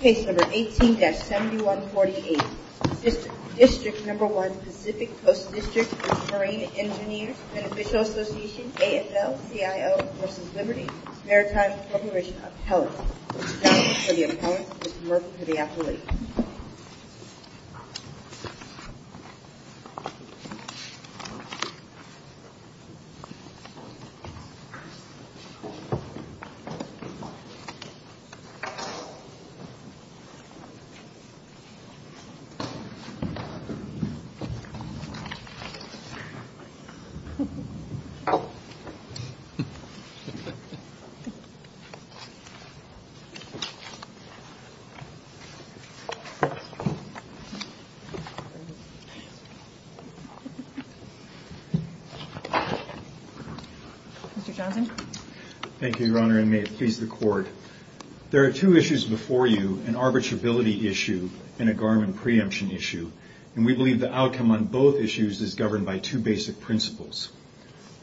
Case No. 18-7148. District No. 1, Pacific Coast District v. Marine Engineers, Beneficial Association, AFL-CIO v. Liberty Maritime Corporation of Health. Thank you for the appointment, Mr. Murphy, to the athlete. Thank you, Your Honor, and may it please the Court. There are two issues before you, an arbitrability issue and a Garmin preemption issue, and we believe the outcome on both issues is governed by two basic principles.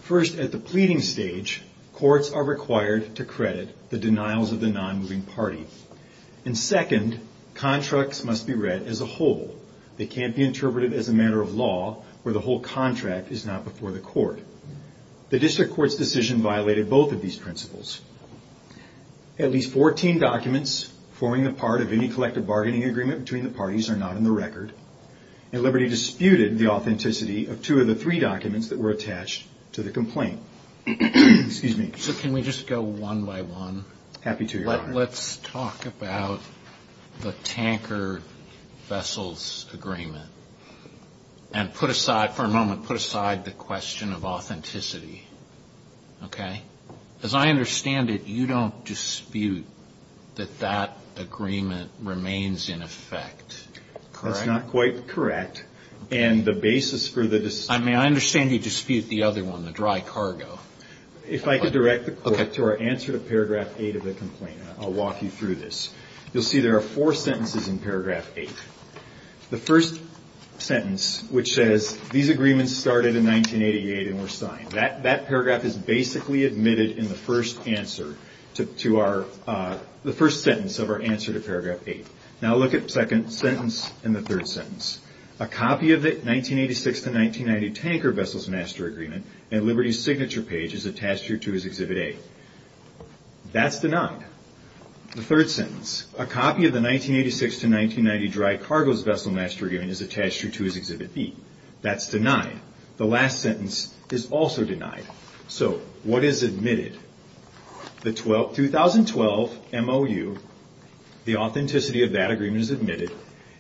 First, at the pleading stage, courts are required to credit the denials of the non-moving party. And second, contracts must be read as a whole. They can't be interpreted as a matter of law where the whole contract is not before the court. The District Court's decision violated both of these principles. At least 14 documents forming the part of any collective bargaining agreement between the parties are not in the record, and Liberty disputed the authenticity of two of the three documents that were attached to the complaint. Excuse me. So can we just go one by one? Happy to, Your Honor. Let's talk about the tanker vessels agreement and put aside, for a moment, put aside the question of authenticity, okay? As I understand it, you don't dispute that that agreement remains in effect, correct? No, it's not quite correct. And the basis for the dispute... I mean, I understand you dispute the other one, the dry cargo. If I could direct the Court to our answer to paragraph 8 of the complaint, I'll walk you through this. You'll see there are four sentences in paragraph 8. The first sentence, which says, these agreements started in 1988 and were signed. That paragraph is basically admitted in the first answer to our, the first sentence of our answer to paragraph 8. Now look at the second sentence and the third sentence. A copy of the 1986 to 1990 tanker vessels master agreement at Liberty's signature page is attached here to his Exhibit A. That's denied. The third sentence, a copy of the 1986 to 1990 dry cargo vessel master agreement is attached here to his Exhibit B. That's denied. The last sentence is also denied. So, what is admitted? The 2012 MOU, the authenticity of that agreement is admitted.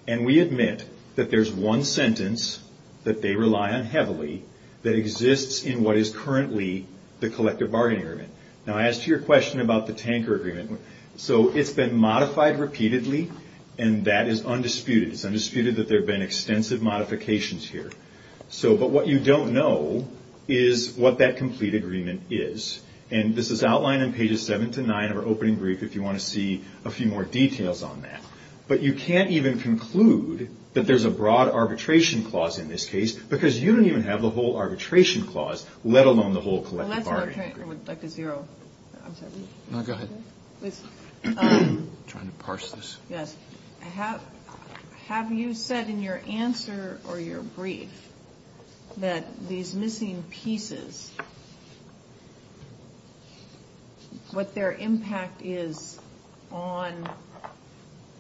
And we admit that there's one sentence that they rely on heavily that exists in what is currently the collective bargaining agreement. Now, I asked you a question about the tanker agreement. So, it's been modified repeatedly, and that is undisputed. It's undisputed that there have been extensive modifications here. So, but what you don't know is what that complete agreement is. And this is outlined on pages 7 to 9 of our opening brief if you want to see a few more details on that. But you can't even conclude that there's a broad arbitration clause in this case because you don't even have the whole arbitration clause, let alone the whole collective bargaining agreement. Have you said in your answer or your brief that these missing pieces, what their impact is on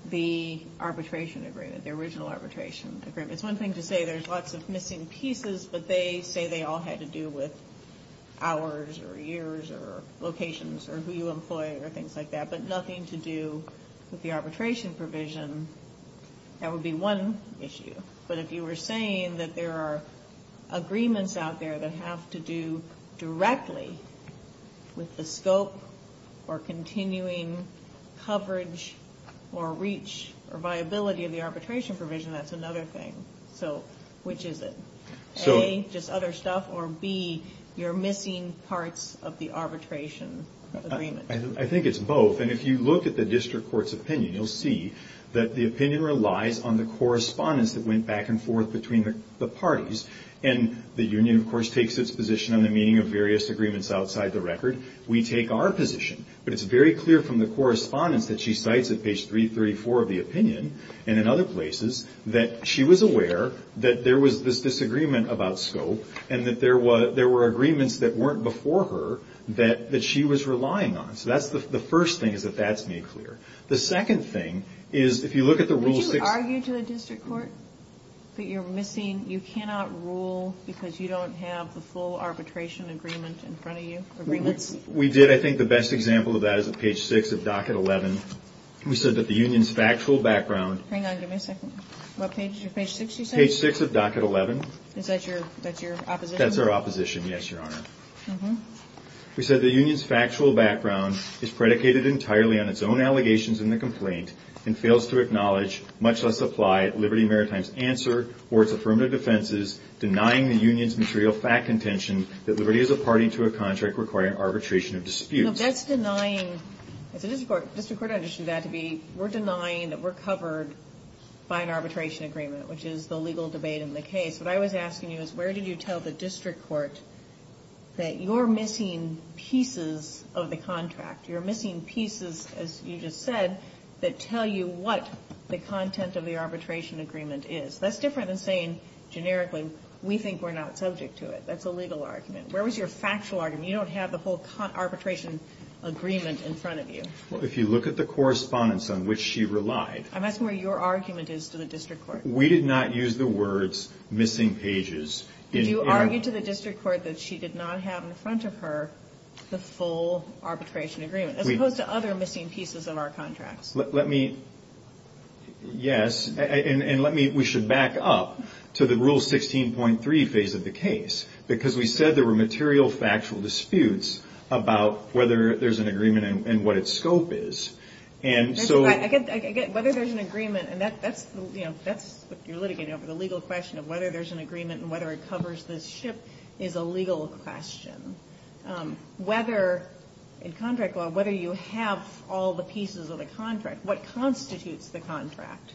the arbitration agreement, the original arbitration agreement? It's one thing to say there's lots of missing pieces, but they say they all had to do with hours or years or locations or who you employ or things like that, but nothing to do with the arbitration provision. That would be one issue. But if you were saying that there are agreements out there that have to do directly with the scope or continuing coverage or reach or viability of the arbitration provision, that's another thing. So, which is it? A, just other stuff, or B, you're missing parts of the arbitration agreement? I think it's both. And if you look at the district court's opinion, you'll see that the opinion relies on the correspondence that went back and forth between the parties. And the union, of course, takes its position on the meaning of various agreements outside the record. We take our position. But it's very clear from the correspondence that she cites at page 334 of the opinion and in other places that she was aware that there was this disagreement about scope and that there were agreements that weren't before her that she was relying on. So that's the first thing is that that's made clear. The second thing is if you look at the rules... Would you argue to the district court that you're missing, you cannot rule because you don't have the full arbitration agreement in front of you? We did. I think the best example of that is at page 6 of docket 11. We said that the union's factual background... Hang on, give me a second. What page, page 6 you said? Page 6 of docket 11. Is that your opposition? That's our opposition, yes, Your Honor. We said the union's factual background is predicated entirely on its own allegations in the complaint and fails to acknowledge, much less apply, Liberty Maritime's answer or its affirmative defenses denying the union's material fact contention that Liberty is a party to a contract requiring arbitration of disputes. That's denying, the district court understood that to be, we're denying that we're covered by an arbitration agreement, which is the legal debate in the case. What I was asking you is where did you tell the district court that you're missing pieces of the contract? You're missing pieces, as you just said, that tell you what the content of the arbitration agreement is. That's different than saying generically we think we're not subject to it. That's a legal argument. Where was your factual argument? You don't have the whole arbitration agreement in front of you. Well, if you look at the correspondence on which she relied... I'm asking where your argument is to the district court. We did not use the words missing pages. Did you argue to the district court that she did not have in front of her the full arbitration agreement, as opposed to other missing pieces of our contracts? Let me, yes, and let me, we should back up to the Rule 16.3 phase of the case, because we said there were material factual disputes about whether there's an agreement and what its scope is. And so... I get, whether there's an agreement, and that's, you know, that's what you're litigating over, the legal question of whether there's an agreement and whether it covers this ship is a legal question. Whether, in contract law, whether you have all the pieces of the contract, what constitutes the contract?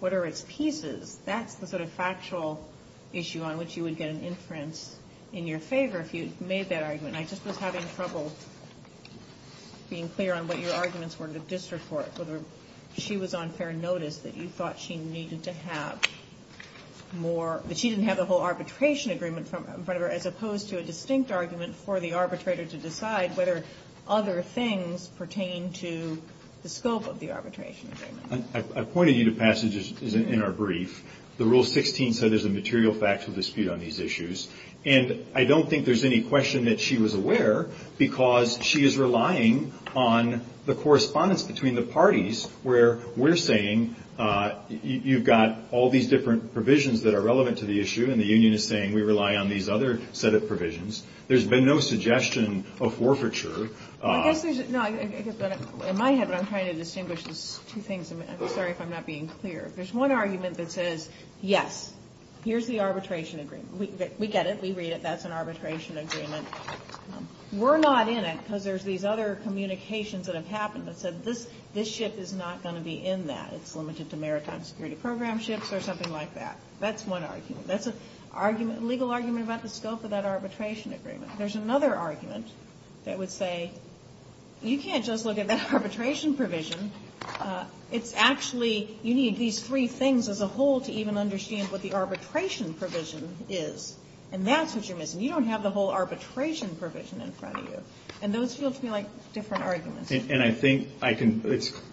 What are its pieces? That's the sort of factual issue on which you would get an inference in your favor if you made that argument. I just was having trouble being clear on what your arguments were to the district court, whether she was on fair notice that you thought she needed to have more... That she didn't have the whole arbitration agreement in front of her, as opposed to a distinct argument for the arbitrator to decide whether other things pertain to the scope of the arbitration agreement. I pointed you to passages in our brief. The Rule 16 said there's a material factual dispute on these issues. And I don't think there's any question that she was aware, because she is relying on the correspondence between the parties, where we're saying you've got all these different provisions that are relevant to the issue. And the union is saying we rely on these other set of provisions. There's been no suggestion of forfeiture. I guess there's... In my head, what I'm trying to distinguish is two things. I'm sorry if I'm not being clear. There's one argument that says, yes, here's the arbitration agreement. We get it. We read it. That's an arbitration agreement. We're not in it because there's these other communications that have happened that said this ship is not going to be in that. It's limited to maritime security program ships or something like that. That's one argument. That's a legal argument about the scope of that arbitration agreement. There's another argument that would say you can't just look at that arbitration provision. It's actually you need these three things as a whole to even understand what the arbitration provision is. And that's what you're missing. You don't have the whole arbitration provision in front of you. And those feel to me like different arguments. And I think I can...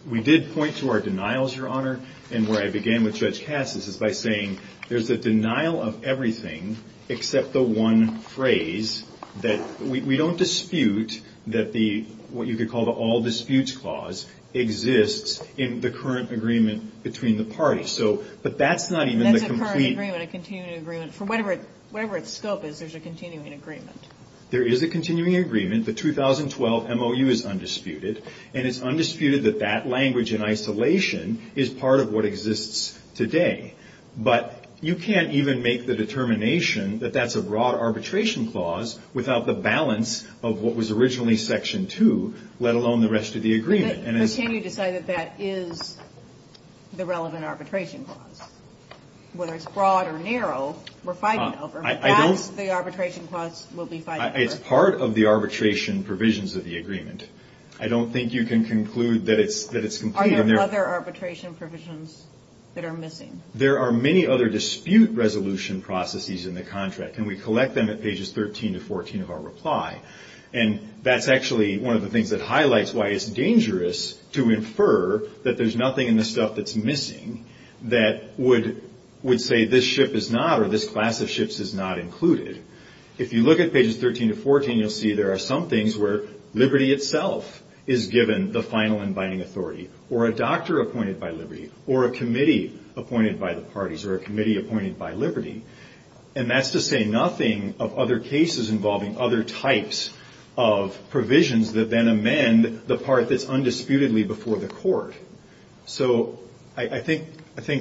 We did point to our denials, Your Honor. And where I began with Judge Cassis is by saying there's a denial of everything except the one phrase that... We don't dispute that what you could call the all disputes clause exists in the current agreement between the parties. But that's not even the complete... That's a current agreement, a continuing agreement. For whatever its scope is, there's a continuing agreement. There is a continuing agreement. The 2012 MOU is undisputed. And it's undisputed that that language in isolation is part of what exists today. But you can't even make the determination that that's a broad arbitration clause without the balance of what was originally Section 2, let alone the rest of the agreement. But can you decide that that is the relevant arbitration clause? Whether it's broad or narrow, we're fighting over. That's the arbitration clause we'll be fighting over. It's part of the arbitration provisions of the agreement. I don't think you can conclude that it's complete. Are there other arbitration provisions that are missing? There are many other dispute resolution processes in the contract, and we collect them at pages 13 to 14 of our reply. And that's actually one of the things that highlights why it's dangerous to infer that there's nothing in the stuff that's missing that would say this ship is not or this class of ships is not included. If you look at pages 13 to 14, you'll see there are some things where liberty itself is given the final abiding authority, or a doctor appointed by liberty, or a committee appointed by the parties, or a committee appointed by liberty. And that's to say nothing of other cases involving other types of provisions that then amend the part that's undisputedly before the court. So I think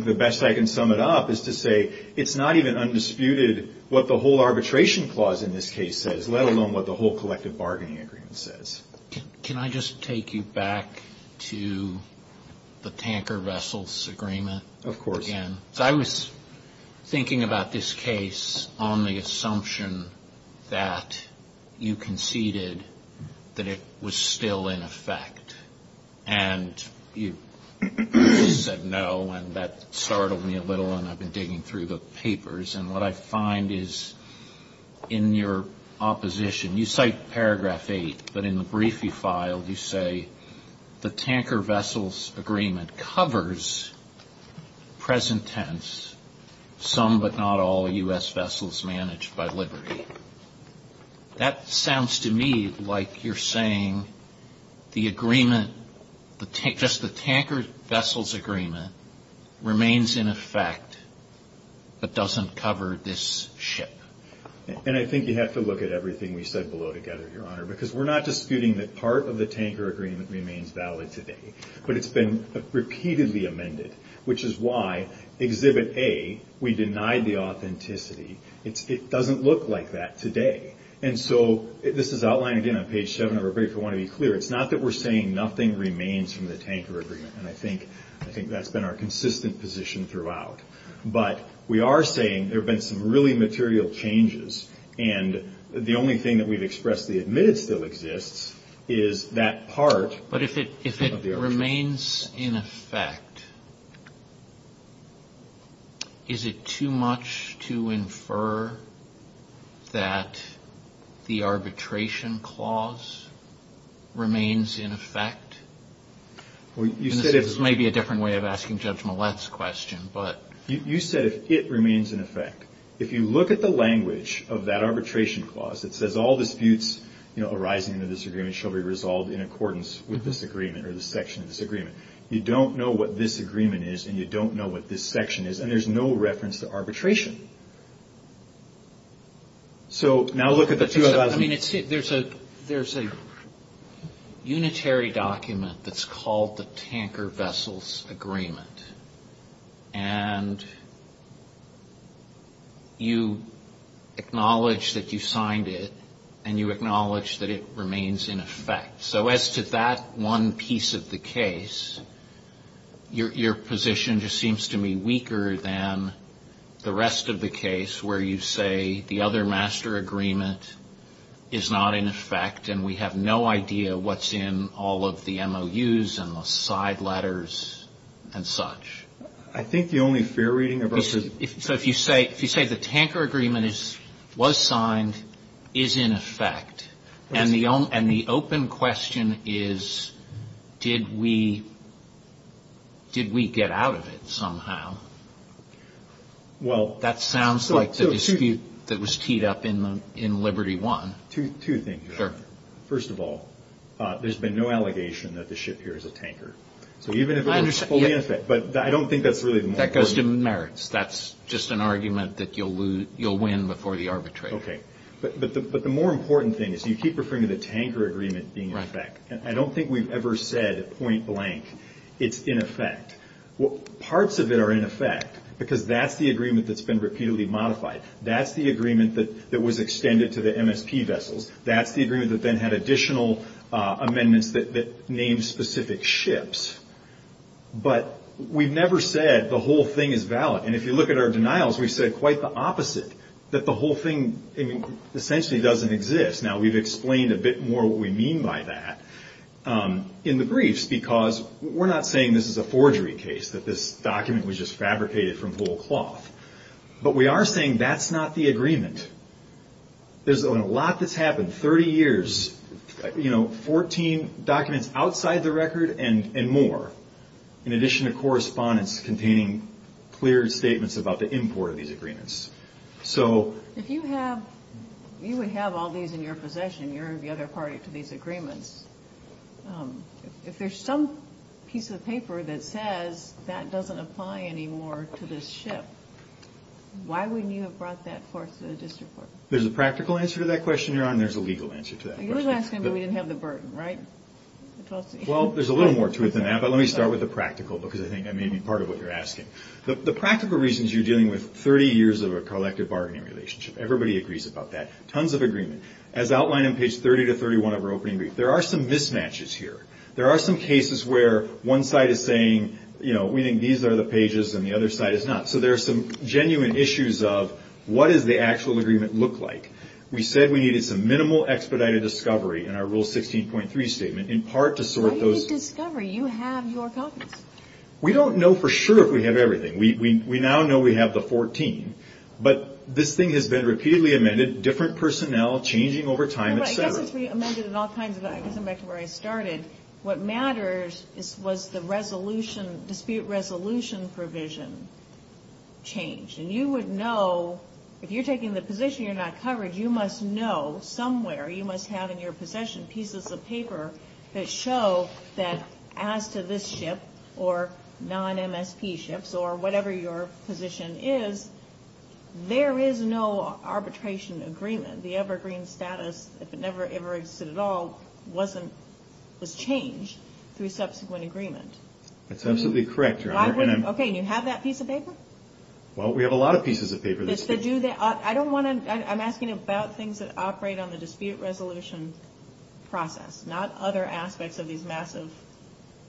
the best I can sum it up is to say it's not even undisputed what the whole arbitration clause in this case says, let alone what the whole collective bargaining agreement says. Can I just take you back to the tanker vessels agreement? Of course. I was thinking about this case on the assumption that you conceded that it was still in effect. And you said no, and that startled me a little, and I've been digging through the papers. And what I find is in your opposition, you cite paragraph 8, but in the brief you filed you say the tanker vessels agreement covers, present tense, some but not all U.S. vessels managed by liberty. That sounds to me like you're saying the agreement, just the tanker vessels agreement, remains in effect but doesn't cover this ship. And I think you have to look at everything we said below together, Your Honor, because we're not disputing that part of the tanker agreement remains valid today. But it's been repeatedly amended, which is why exhibit A, we denied the authenticity. It doesn't look like that today. And so this is outlined again on page 7 of our brief. I want to be clear. It's not that we're saying nothing remains from the tanker agreement. And I think that's been our consistent position throughout. But we are saying there have been some really material changes. And the only thing that we've expressed, the admitted still exists, is that part of the agreement. If it remains in effect, is it too much to infer that the arbitration clause remains in effect? This may be a different way of asking Judge Millett's question. You said if it remains in effect. If you look at the language of that arbitration clause, it says all disputes arising in this agreement shall be resolved in accordance with this agreement or this section of this agreement. You don't know what this agreement is and you don't know what this section is. And there's no reference to arbitration. So now look at the two of us. I mean, there's a unitary document that's called the tanker vessels agreement. And you acknowledge that you signed it and you acknowledge that it remains in effect. So as to that one piece of the case, your position just seems to me weaker than the rest of the case where you say the other master agreement is not in effect and we have no idea what's in all of the MOUs and the side letters and such. I think the only fair reading of our... So if you say the tanker agreement was signed, is in effect. And the open question is, did we get out of it somehow? That sounds like the dispute that was teed up in Liberty One. Two things. First of all, there's been no allegation that the ship here is a tanker. So even if it were fully in effect, but I don't think that's really the most important... That goes to merits. That's just an argument that you'll win before the arbitrator. But the more important thing is you keep referring to the tanker agreement being in effect. I don't think we've ever said point blank it's in effect. Parts of it are in effect because that's the agreement that's been repeatedly modified. That's the agreement that was extended to the MSP vessels. That's the agreement that then had additional amendments that named specific ships. But we've never said the whole thing is valid. And if you look at our denials, we said quite the opposite. That the whole thing essentially doesn't exist. Now we've explained a bit more what we mean by that in the briefs. Because we're not saying this is a forgery case. That this document was just fabricated from whole cloth. But we are saying that's not the agreement. There's been a lot that's happened. Thirty years. Fourteen documents outside the record and more. In addition to correspondence containing clear statements about the import of these agreements. So... If you have, you would have all these in your possession. You're the other party to these agreements. If there's some piece of paper that says that doesn't apply anymore to this ship. Why wouldn't you have brought that forth to the district court? There's a practical answer to that question, Your Honor. And there's a legal answer to that question. You're asking me we didn't have the burden, right? Well, there's a little more to it than that. But let me start with the practical. Because I think that may be part of what you're asking. The practical reason is you're dealing with 30 years of a collective bargaining relationship. Everybody agrees about that. Tons of agreement. As outlined on page 30 to 31 of our opening brief, there are some mismatches here. There are some cases where one side is saying, you know, we think these are the pages. And the other side is not. So there are some genuine issues of what does the actual agreement look like? We said we needed some minimal expedited discovery in our Rule 16.3 statement in part to sort those. What do you mean discovery? You have your copies. We don't know for sure if we have everything. We now know we have the 14. But this thing has been repeatedly amended, different personnel, changing over time, et cetera. I guess it's been amended in all kinds of ways. I'm back to where I started. What matters was the dispute resolution provision change. You would know if you're taking the position you're not covered, you must know somewhere, you must have in your possession pieces of paper that show that as to this ship or non-MSP ships or whatever your position is, there is no arbitration agreement. The evergreen status, if it ever existed at all, was changed through subsequent agreement. That's absolutely correct. Okay. And you have that piece of paper? Well, we have a lot of pieces of paper. I'm asking about things that operate on the dispute resolution process, not other aspects of these massive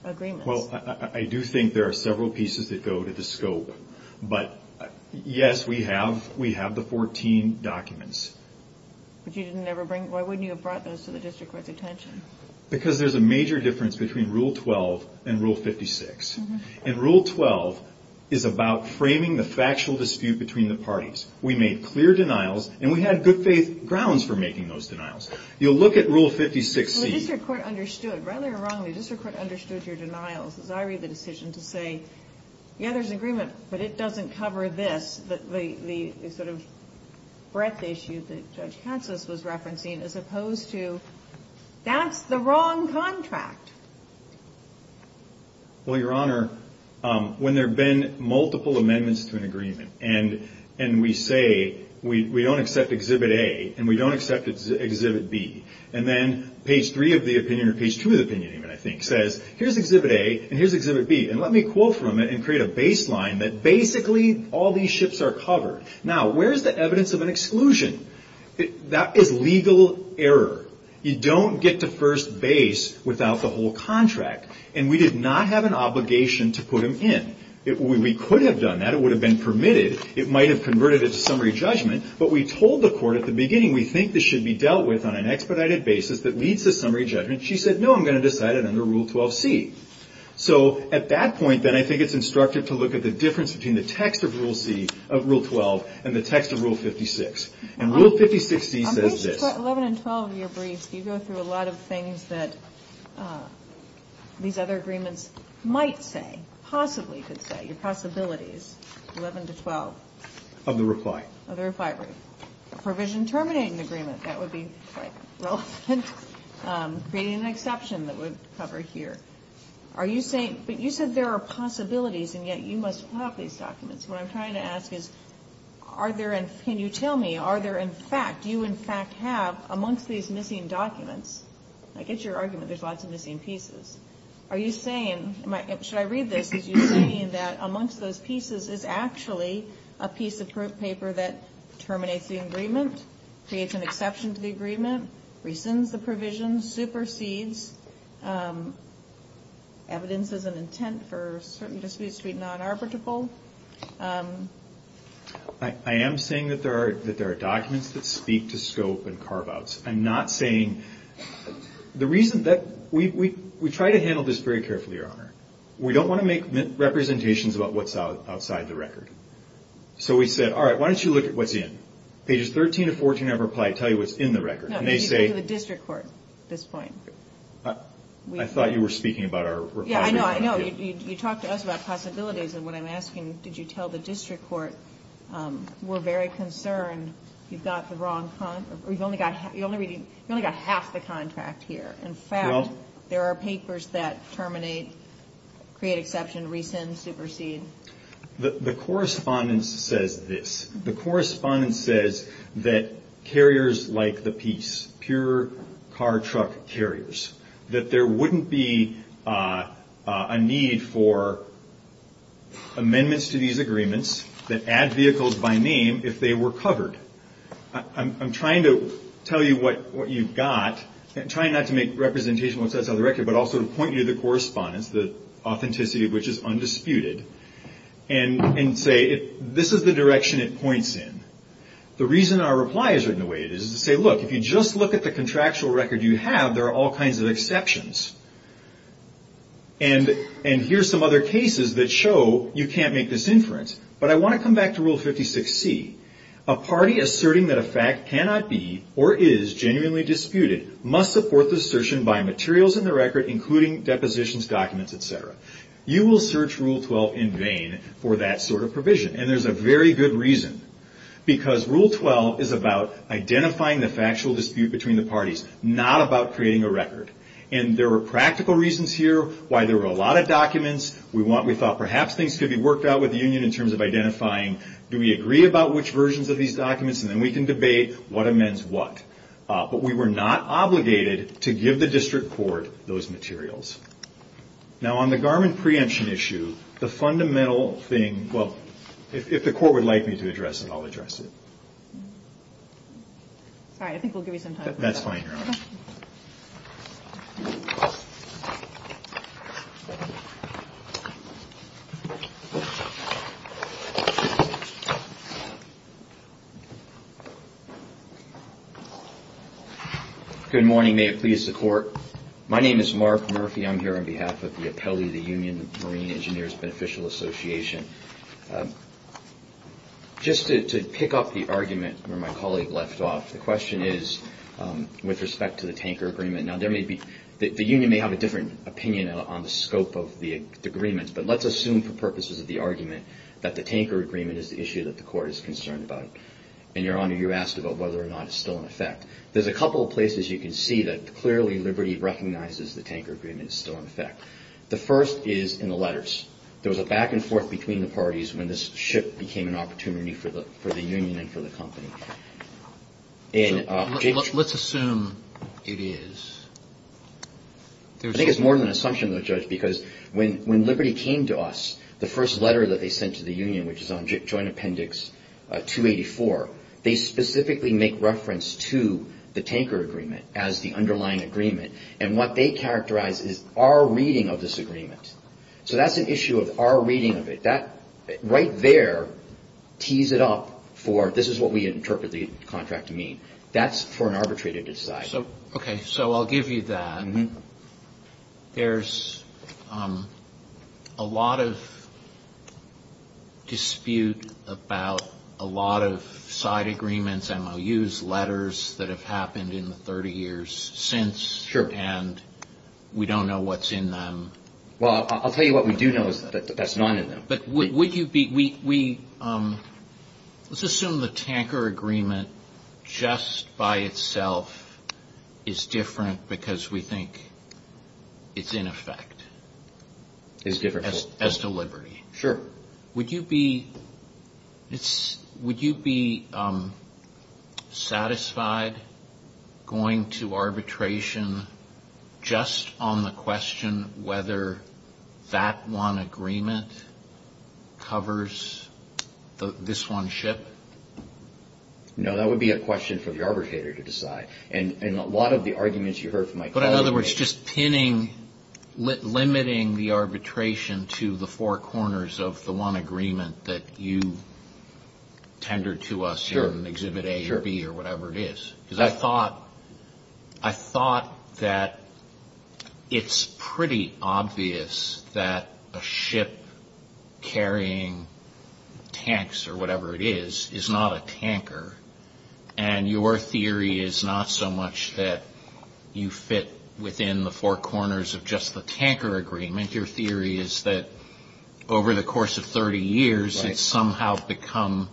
agreements. Well, I do think there are several pieces that go to the scope. But, yes, we have the 14 documents. Why wouldn't you have brought those to the district court's attention? Because there's a major difference between Rule 12 and Rule 56. And Rule 12 is about framing the factual dispute between the parties. We made clear denials, and we had good-faith grounds for making those denials. You'll look at Rule 56C. Well, the district court understood, rightly or wrongly, the district court understood your denials. As I read the decision to say, yeah, there's an agreement, but it doesn't cover this, the sort of breadth issue that Judge Katsas was referencing, as opposed to, that's the wrong contract. Well, Your Honor, when there have been multiple amendments to an agreement, and we say we don't accept Exhibit A and we don't accept Exhibit B, and then page 3 of the opinion, or page 2 of the opinion, I think, says, here's Exhibit A and here's Exhibit B, and let me quote from it and create a baseline that basically all these ships are covered. Now, where is the evidence of an exclusion? That is legal error. You don't get to first base without the whole contract, and we did not have an obligation to put them in. We could have done that. It would have been permitted. It might have converted it to summary judgment, but we told the court at the beginning, we think this should be dealt with on an expedited basis that leads to summary judgment. She said, no, I'm going to decide it under Rule 12C. So at that point, then, I think it's instructive to look at the difference between the text of Rule 12 and the text of Rule 56, and Rule 56C says this. 11 and 12 of your briefs, you go through a lot of things that these other agreements might say, possibly could say, your possibilities, 11 to 12. Of the reply. Of the reply brief. Provision terminating the agreement, that would be quite relevant, creating an exception that would cover here. But you said there are possibilities, and yet you must have these documents. What I'm trying to ask is, can you tell me, are there in fact, do you have, amongst these missing documents, I get your argument there's lots of missing pieces, are you saying, should I read this, are you saying that amongst those pieces is actually a piece of paper that terminates the agreement, creates an exception to the agreement, rescinds the provision, supersedes evidence as an intent for certain disputes to be non-arbitrable? I am saying that there are documents that speak to scope and carve-outs. I'm not saying, the reason that, we try to handle this very carefully, Your Honor. We don't want to make representations about what's outside the record. So we said, all right, why don't you look at what's in. Pages 13 to 14 of our reply tell you what's in the record. No, you go to the district court at this point. I thought you were speaking about our reply. Yeah, I know, I know. You talked to us about possibilities, and what I'm asking, did you tell the district court, we're very concerned, you've got the wrong, you've only got half the contract here. In fact, there are papers that terminate, create exception, rescind, supersede. The correspondence says this. The correspondence says that carriers like the piece, pure car-truck carriers, that there wouldn't be a need for amendments to these agreements that add vehicles by name if they were covered. I'm trying to tell you what you've got. I'm trying not to make representations of what's outside the record, but also to point you to the correspondence, the authenticity of which is undisputed, and say, this is the direction it points in. The reason our reply is written the way it is, is to say, look, if you just look at the contractual record you have, there are all kinds of exceptions. And here's some other cases that show you can't make this inference. But I want to come back to Rule 56C. A party asserting that a fact cannot be, or is, genuinely disputed, must support the assertion by materials in the record, including depositions, documents, et cetera. You will search Rule 12 in vain for that sort of provision, and there's a very good reason. Because Rule 12 is about identifying the factual dispute between the parties, not about creating a record. And there were practical reasons here why there were a lot of documents. We thought perhaps things could be worked out with the union in terms of identifying, do we agree about which versions of these documents, and then we can debate what amends what. But we were not obligated to give the district court those materials. Now, on the garment preemption issue, the fundamental thing, well, if the court would like me to address it, I'll address it. Sorry, I think we'll give you some time for that. That's fine, Your Honor. Good morning. May it please the Court. My name is Mark Murphy. I'm here on behalf of the appellee of the Union Marine Engineers Beneficial Association. Just to pick up the argument where my colleague left off, the question is with respect to the tanker agreement. Now, the union may have a different opinion on the scope of the agreements, but let's assume for purposes of the argument that the tanker agreement is the issue that the court is concerned about. And, Your Honor, you asked about whether or not it's still in effect. There's a couple of places you can see that clearly Liberty recognizes the tanker agreement is still in effect. The first is in the letters. There was a back and forth between the parties when this ship became an opportunity for the union and for the company. Let's assume it is. I think it's more than an assumption, though, Judge, because when Liberty came to us, the first letter that they sent to the union, which is on Joint Appendix 284, they specifically make reference to the tanker agreement as the underlying agreement. And what they characterize is our reading of this agreement. So that's an issue of our reading of it. That right there tees it up for this is what we interpret the contract to mean. That's for an arbitrator to decide. So I'll give you that. There's a lot of dispute about a lot of side agreements, MOUs, letters that have happened in the 30 years since. Sure. And we don't know what's in them. Well, I'll tell you what we do know is that there's none in them. Let's assume the tanker agreement just by itself is different because we think it's in effect as to Liberty. Sure. Would you be satisfied going to arbitration just on the question whether that one agreement covers this one ship? No, that would be a question for the arbitrator to decide. But in other words, just pinning, limiting the arbitration to the four corners of the one agreement that you tendered to us in Exhibit A or B or whatever it is. Because I thought that it's pretty obvious that a ship carrying tanks or whatever it is is not a tanker. And your theory is not so much that you fit within the four corners of just the tanker agreement. Your theory is that over the course of 30 years, it's somehow become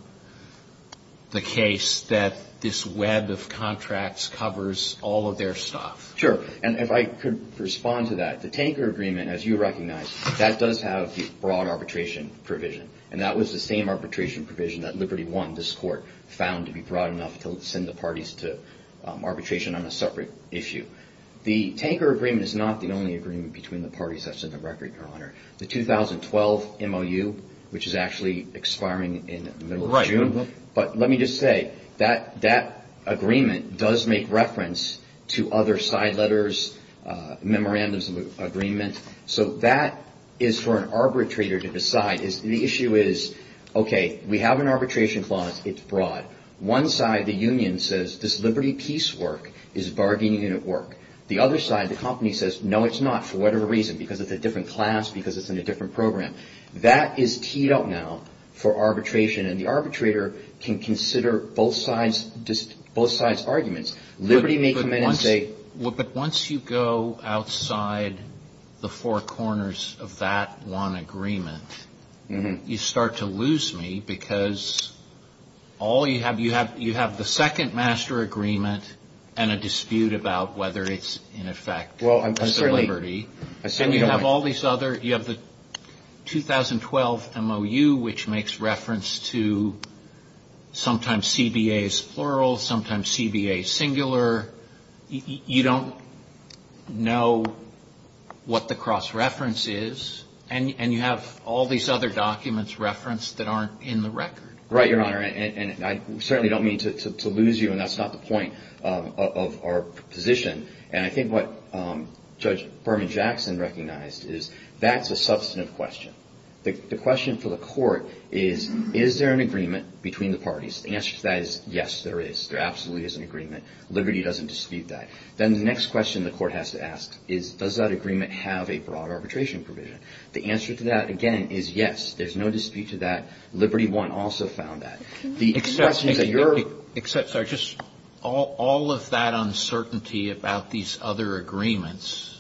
the case that this web of contracts covers all of their stuff. Sure. And if I could respond to that, the tanker agreement, as you recognize, that does have broad arbitration provision. And that was the same arbitration provision that Liberty won this court found to be broad enough to send the parties to arbitration on a separate issue. The tanker agreement is not the only agreement between the parties that's in the record, Your Honor. The 2012 MOU, which is actually expiring in the middle of June. Right. But let me just say that that agreement does make reference to other side letters, memorandums of agreement. So that is for an arbitrator to decide. The issue is, okay, we have an arbitration clause. It's broad. One side, the union, says this Liberty Peace work is bargaining unit work. The other side, the company, says, no, it's not, for whatever reason, because it's a different class, because it's in a different program. That is teed up now for arbitration. And the arbitrator can consider both sides' arguments. But once you go outside the four corners of that one agreement, you start to lose me, because all you have, you have the second master agreement and a dispute about whether it's in effect as a liberty. Well, I certainly don't. And you have all these other, you have the 2012 MOU, which makes reference to sometimes CBA is plural, sometimes CBA is singular. You don't know what the cross-reference is. And you have all these other documents referenced that aren't in the record. Right, Your Honor. And I certainly don't mean to lose you, and that's not the point of our position. And I think what Judge Berman Jackson recognized is that's a substantive question. The question for the Court is, is there an agreement between the parties? The answer to that is, yes, there is. There absolutely is an agreement. Liberty doesn't dispute that. Then the next question the Court has to ask is, does that agreement have a broad arbitration provision? The answer to that, again, is yes. There's no dispute to that. Liberty won't also found that. Except, sorry, just all of that uncertainty about these other agreements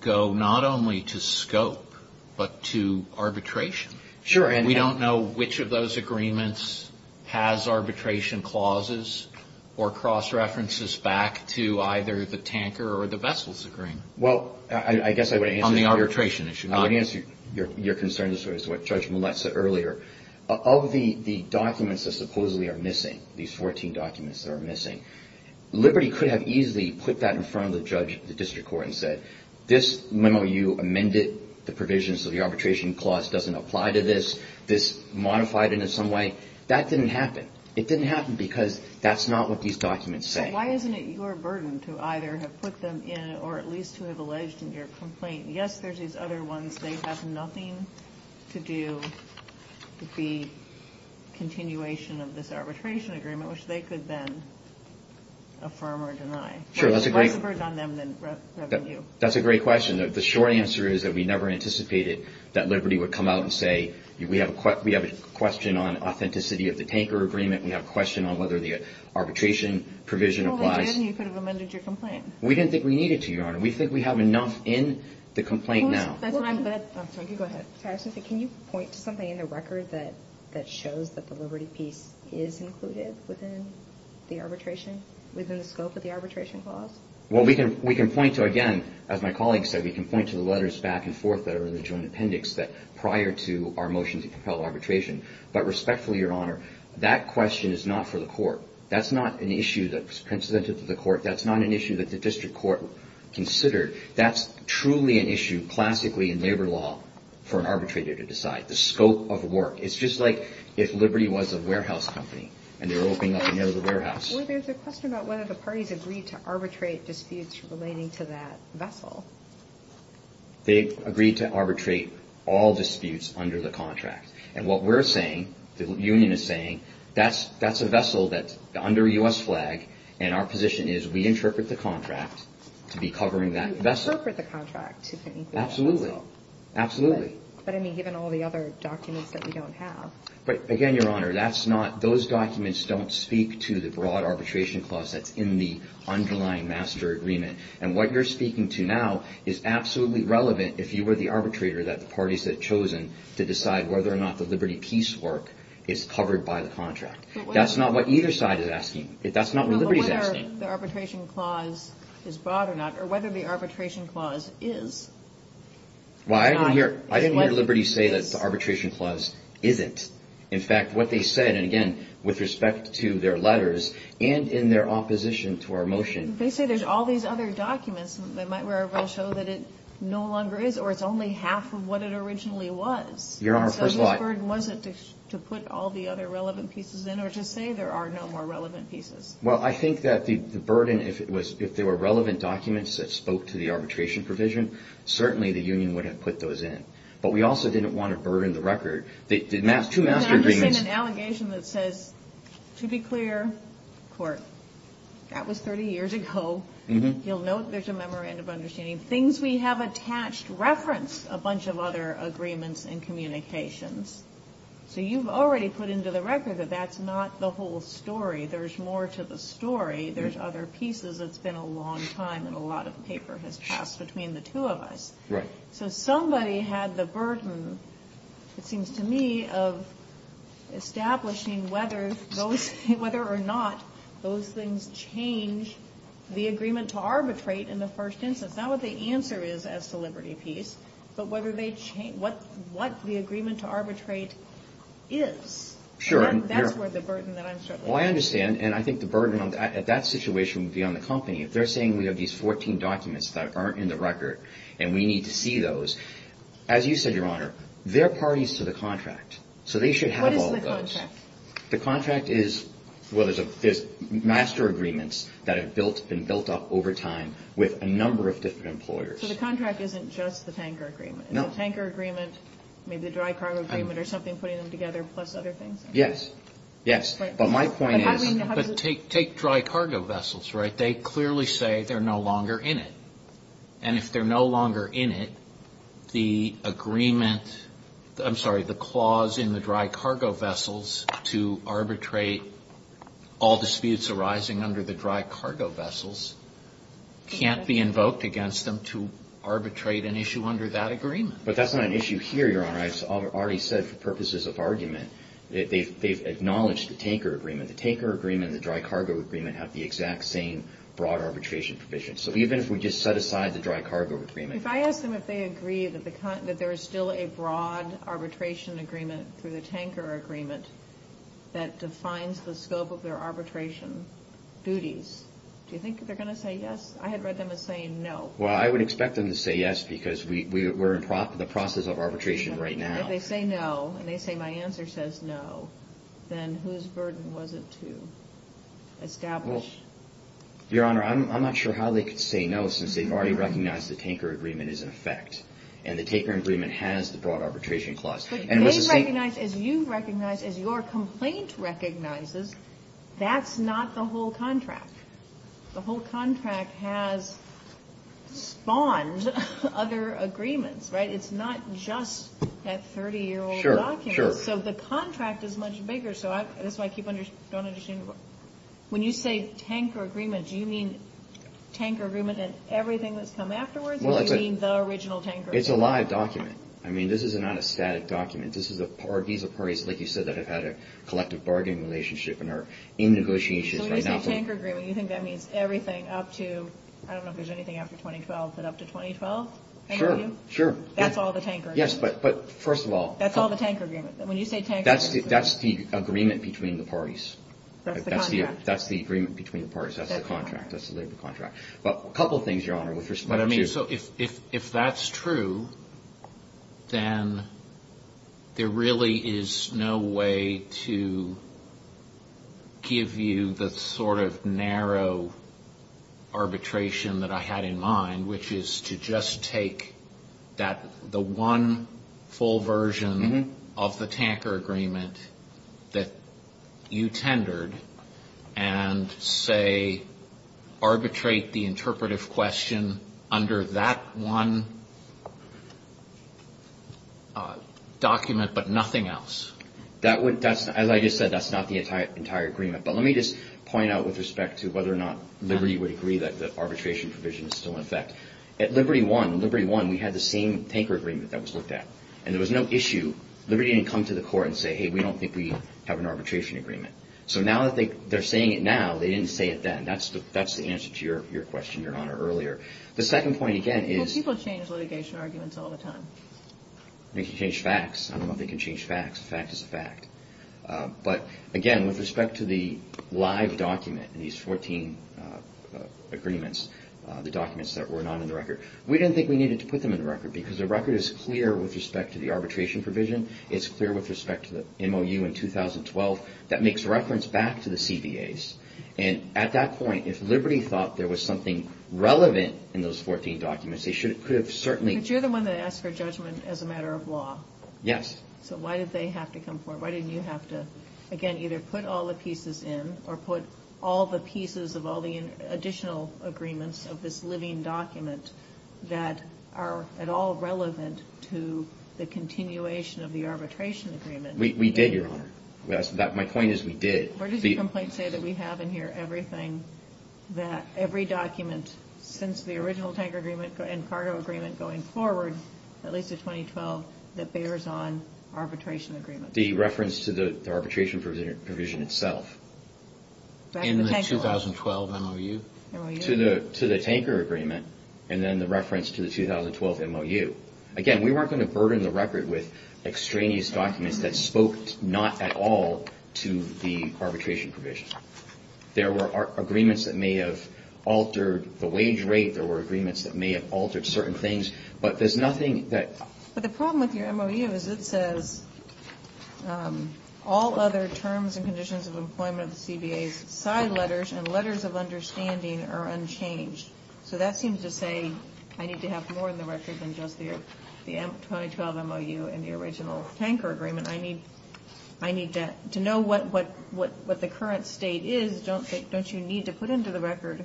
go not only to scope but to arbitration. Sure. And we don't know which of those agreements has arbitration clauses or cross-references back to either the tanker or the vessels agreement. Well, I guess I would answer your question. On the arbitration issue. I would answer your concern as to what Judge Millett said earlier. Of the documents that supposedly are missing, these 14 documents that are missing, Liberty could have easily put that in front of the judge at the district court and said, this memo you amended, the provisions of the arbitration clause doesn't apply to this. This modified it in some way. That didn't happen. It didn't happen because that's not what these documents say. So why isn't it your burden to either have put them in or at least to have alleged in your complaint, yes, there's these other ones, they have nothing to do with the continuation of this arbitration agreement, which they could then affirm or deny. Sure, that's a great question. The short answer is that we never anticipated that Liberty would come out and say, we have a question on authenticity of the tanker agreement. We have a question on whether the arbitration provision applies. Well, we didn't. You could have amended your complaint. We didn't think we needed to, Your Honor. We think we have enough in the complaint now. Can you point to something in the record that shows that the Liberty piece is included within the arbitration, within the scope of the arbitration clause? Well, we can point to, again, as my colleague said, we can point to the letters back and forth that are in the joint appendix prior to our motion to compel arbitration. But respectfully, Your Honor, that question is not for the court. That's not an issue that's presented to the court. That's not an issue that the district court considered. That's truly an issue classically in labor law for an arbitrator to decide, the scope of work. It's just like if Liberty was a warehouse company and they were opening up another warehouse. Well, there's a question about whether the parties agreed to arbitrate disputes relating to that vessel. They agreed to arbitrate all disputes under the contract. And what we're saying, the union is saying, that's a vessel that's under a U.S. flag, and our position is we interpret the contract to be covering that vessel. You interpret the contract to be equal to the vessel. Absolutely. Absolutely. But, I mean, given all the other documents that we don't have. But, again, Your Honor, that's not – those documents don't speak to the broad arbitration clause that's in the underlying master agreement. And what you're speaking to now is absolutely relevant if you were the arbitrator that the parties had chosen to decide whether or not the Liberty piece work is covered by the contract. That's not what either side is asking. That's not what Liberty is asking. Whether the arbitration clause is broad or not, or whether the arbitration clause is. Well, I didn't hear Liberty say that the arbitration clause isn't. In fact, what they said, and, again, with respect to their letters and in their opposition to our motion. They say there's all these other documents that might well show that it no longer is, or it's only half of what it originally was. Your Honor, first thought. What burden was it to put all the other relevant pieces in or to say there are no more relevant pieces? Well, I think that the burden, if it was – if there were relevant documents that spoke to the arbitration provision, certainly the union would have put those in. But we also didn't want to burden the record. The two master agreements – I understand an allegation that says, to be clear, court, that was 30 years ago. You'll note there's a memorandum of understanding. Things we have attached reference a bunch of other agreements and communications. So you've already put into the record that that's not the whole story. There's more to the story. There's other pieces. It's been a long time, and a lot of paper has passed between the two of us. Right. So somebody had the burden, it seems to me, of establishing whether those – whether or not those things change the agreement to arbitrate in the first instance. Not what the answer is as to Liberty Peace, but whether they – what the agreement to arbitrate is. Sure. And that's where the burden that I'm struggling with. Well, I understand, and I think the burden at that situation would be on the company. If they're saying we have these 14 documents that aren't in the record and we need to see those, as you said, Your Honor, they're parties to the contract. So they should have all of those. What is the contract? The contract is – well, there's master agreements that have been built up over time with a number of different employers. So the contract isn't just the tanker agreement? No. The tanker agreement, maybe the dry cargo agreement or something putting them together plus other things? Yes. Yes. But my point is – But take dry cargo vessels, right? They clearly say they're no longer in it. And if they're no longer in it, the agreement – I'm sorry, the clause in the dry cargo vessels to arbitrate all disputes arising under the dry cargo vessels can't be invoked against them to arbitrate an issue under that agreement. But that's not an issue here, Your Honor. I already said for purposes of argument that they've acknowledged the tanker agreement. The tanker agreement and the dry cargo agreement have the exact same broad arbitration provisions. So even if we just set aside the dry cargo agreement – If I ask them if they agree that there is still a broad arbitration agreement through the tanker agreement that defines the scope of their arbitration duties, do you think they're going to say yes? I had read them as saying no. Well, I would expect them to say yes because we're in the process of arbitration right now. If they say no and they say my answer says no, then whose burden was it to establish? Your Honor, I'm not sure how they could say no since they've already recognized the tanker agreement is in effect and the tanker agreement has the broad arbitration clause. But they've recognized, as you've recognized, as your complaint recognizes, that's not the whole contract. The whole contract has spawned other agreements, right? It's not just that 30-year-old document. Sure, sure. So the contract is much bigger. So that's why I keep going on and on. When you say tanker agreement, do you mean tanker agreement and everything that's come afterwards? Or do you mean the original tanker agreement? It's a live document. I mean, this is not a static document. These are parties, like you said, that have had a collective bargaining relationship and are in negotiations. So when you say tanker agreement, you think that means everything up to, I don't know if there's anything after 2012, but up to 2012? Sure, sure. That's all the tanker agreement. Yes, but first of all. That's all the tanker agreement. When you say tanker agreement. That's the agreement between the parties. That's the contract. That's the agreement between the parties. That's the contract. That's the labor contract. But a couple of things, Your Honor, with respect to. So if that's true, then there really is no way to give you the sort of narrow arbitration that I had in mind, which is to just take the one full version of the tanker agreement that you tendered and say arbitrate the interpretive question under that one document but nothing else. As I just said, that's not the entire agreement. But let me just point out with respect to whether or not Liberty would agree that the arbitration provision is still in effect. At Liberty won. Liberty won. We had the same tanker agreement that was looked at. And there was no issue. Liberty didn't come to the court and say, hey, we don't think we have an arbitration agreement. So now that they're saying it now, they didn't say it then. That's the answer to your question, Your Honor, earlier. The second point, again, is. Well, people change litigation arguments all the time. They can change facts. I don't know if they can change facts. A fact is a fact. But, again, with respect to the live document, these 14 agreements, the documents that were not in the record, we didn't think we needed to put them in the record because the record is clear with respect to the arbitration provision. It's clear with respect to the MOU in 2012. That makes reference back to the CBAs. And at that point, if Liberty thought there was something relevant in those 14 documents, they could have certainly. But you're the one that asked for judgment as a matter of law. Yes. So why did they have to come forward? Why didn't you have to, again, either put all the pieces in or put all the pieces of all the additional agreements of this living document that are at all relevant to the continuation of the arbitration agreement? We did, Your Honor. Yes. My point is we did. Where does the complaint say that we have in here everything that every document since the original tanker agreement and cargo agreement going forward, at least to 2012, that bears on arbitration agreement? The reference to the arbitration provision itself. In the 2012 MOU? MOU. To the tanker agreement and then the reference to the 2012 MOU. Again, we weren't going to burden the record with extraneous documents that spoke not at all to the arbitration provision. There were agreements that may have altered the wage rate. There were agreements that may have altered certain things. But there's nothing that. But the problem with your MOU is it says all other terms and conditions of employment of the CBAs, side letters and letters of understanding are unchanged. So that seems to say I need to have more in the record than just the 2012 MOU and the original tanker agreement. I need to know what the current state is. Don't you need to put into the record,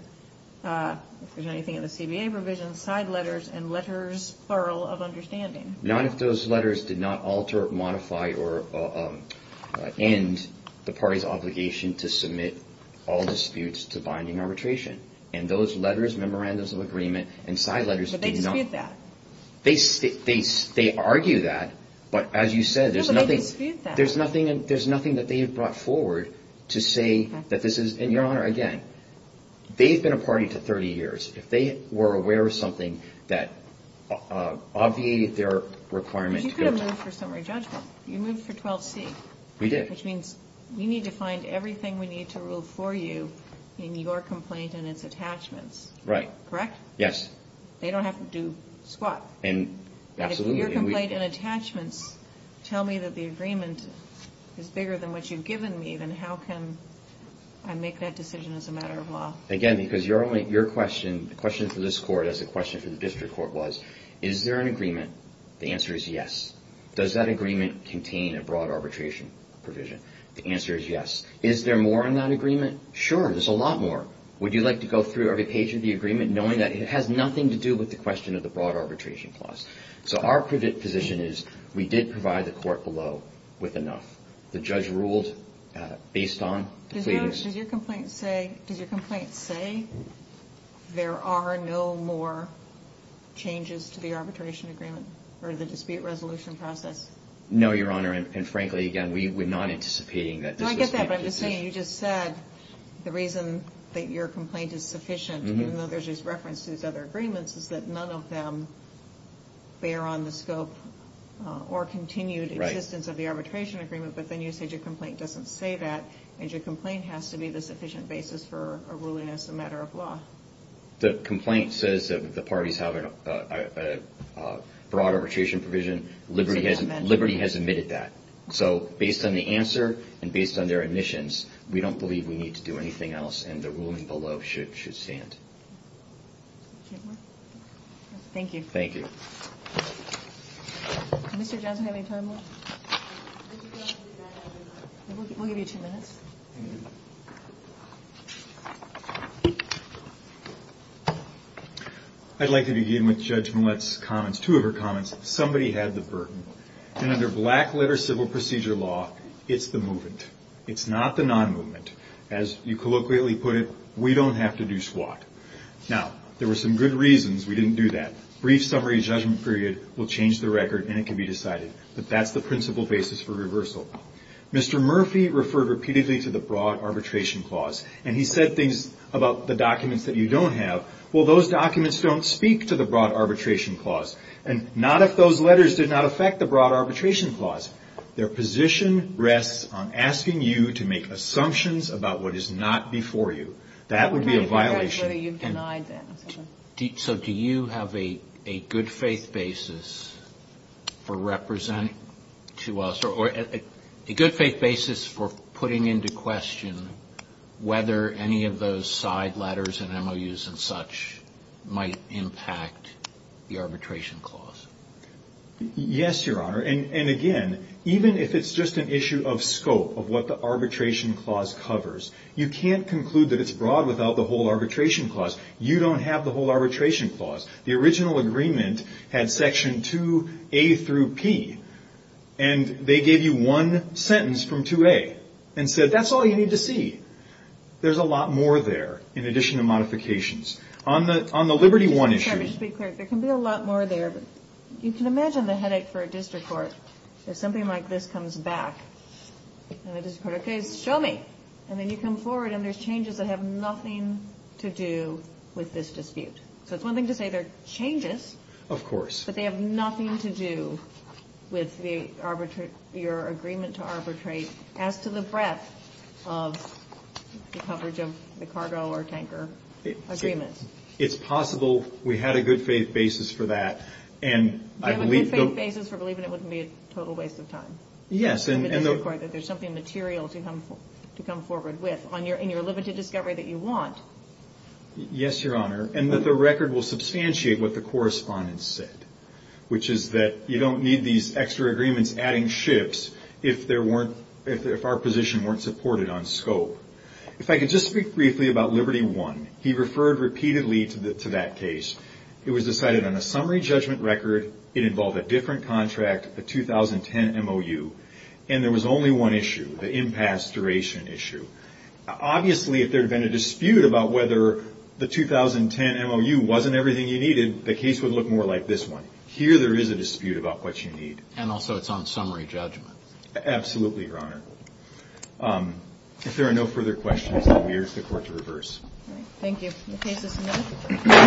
if there's anything in the CBA provision, side letters and letters thorough of understanding? Not if those letters did not alter, modify, or end the party's obligation to submit all disputes to binding arbitration. And those letters, memorandums of agreement, and side letters did not. But they dispute that. They argue that. But as you said, there's nothing. No, but they dispute that. There's nothing that they have brought forward to say that this is. And, Your Honor, again, they've been a party to 30 years. If they were aware of something that obviated their requirement. But you could have moved for summary judgment. You moved for 12C. We did. Which means we need to find everything we need to rule for you in your complaint and its attachments. Right. Correct? Yes. They don't have to do squat. Absolutely. If your complaint and attachments tell me that the agreement is bigger than what you've given me, then how can I make that decision as a matter of law? Again, because your question, the question for this Court, as the question for the district court was, is there an agreement? The answer is yes. Does that agreement contain a broad arbitration provision? The answer is yes. Is there more in that agreement? Sure, there's a lot more. Would you like to go through every page of the agreement, knowing that it has nothing to do with the question of the broad arbitration clause? So our position is we did provide the Court below with enough. The judge ruled based on the pleadings. Does your complaint say there are no more changes to the arbitration agreement or the dispute resolution process? No, Your Honor, and frankly, again, we're not anticipating that. I get that, but I'm just saying you just said the reason that your complaint is sufficient, even though there's this reference to these other agreements, is that none of them bear on the scope or continued existence of the arbitration agreement, but then you said your complaint doesn't say that, and your complaint has to be the sufficient basis for a ruling as a matter of law. The complaint says that the parties have a broad arbitration provision. Liberty has admitted that. So based on the answer and based on their admissions, we don't believe we need to do anything else, and the ruling below should stand. Thank you. Thank you. Does Mr. Johnson have any time left? We'll give you two minutes. I'd like to begin with Judge Millett's comments. Two of her comments, somebody had the burden, and under black-letter civil procedure law, it's the movement. It's not the non-movement. As you colloquially put it, we don't have to do SWAT. Now, there were some good reasons we didn't do that. Brief summary judgment period will change the record, and it can be decided. But that's the principal basis for reversal. Mr. Murphy referred repeatedly to the broad arbitration clause, and he said things about the documents that you don't have. Well, those documents don't speak to the broad arbitration clause, and not if those letters did not affect the broad arbitration clause. Their position rests on asking you to make assumptions about what is not before you. That would be a violation. So do you have a good-faith basis for representing to us, or a good-faith basis for putting into question whether any of those side letters and MOUs and such might impact the arbitration clause? Yes, Your Honor. And, again, even if it's just an issue of scope, of what the arbitration clause covers, you can't conclude that it's broad without the whole arbitration clause. You don't have the whole arbitration clause. The original agreement had Section 2A through P, and they gave you one sentence from 2A and said, that's all you need to see. There's a lot more there in addition to modifications. On the Liberty One issue. Mr. Chairman, just to be clear, there can be a lot more there. You can imagine the headache for a district court if something like this comes back. And the district court says, show me. And then you come forward and there's changes that have nothing to do with this dispute. So it's one thing to say they're changes. Of course. But they have nothing to do with your agreement to arbitrate as to the breadth of the coverage of the cargo or tanker agreements. It's possible. We had a good-faith basis for that. Do you have a good-faith basis for believing it wouldn't be a total waste of time? Yes. And the district court that there's something material to come forward with in your limited discovery that you want. Yes, Your Honor. And that the record will substantiate what the correspondence said, which is that you don't need these extra agreements adding ships if our position weren't supported on scope. If I could just speak briefly about Liberty One. He referred repeatedly to that case. It was decided on a summary judgment record. It involved a different contract, a 2010 MOU. And there was only one issue, the impasse duration issue. Obviously, if there had been a dispute about whether the 2010 MOU wasn't everything you needed, the case would look more like this one. Here there is a dispute about what you need. And also it's on summary judgment. Absolutely, Your Honor. If there are no further questions, I'll leave the Court to reverse. All right. Thank you. The case is submitted.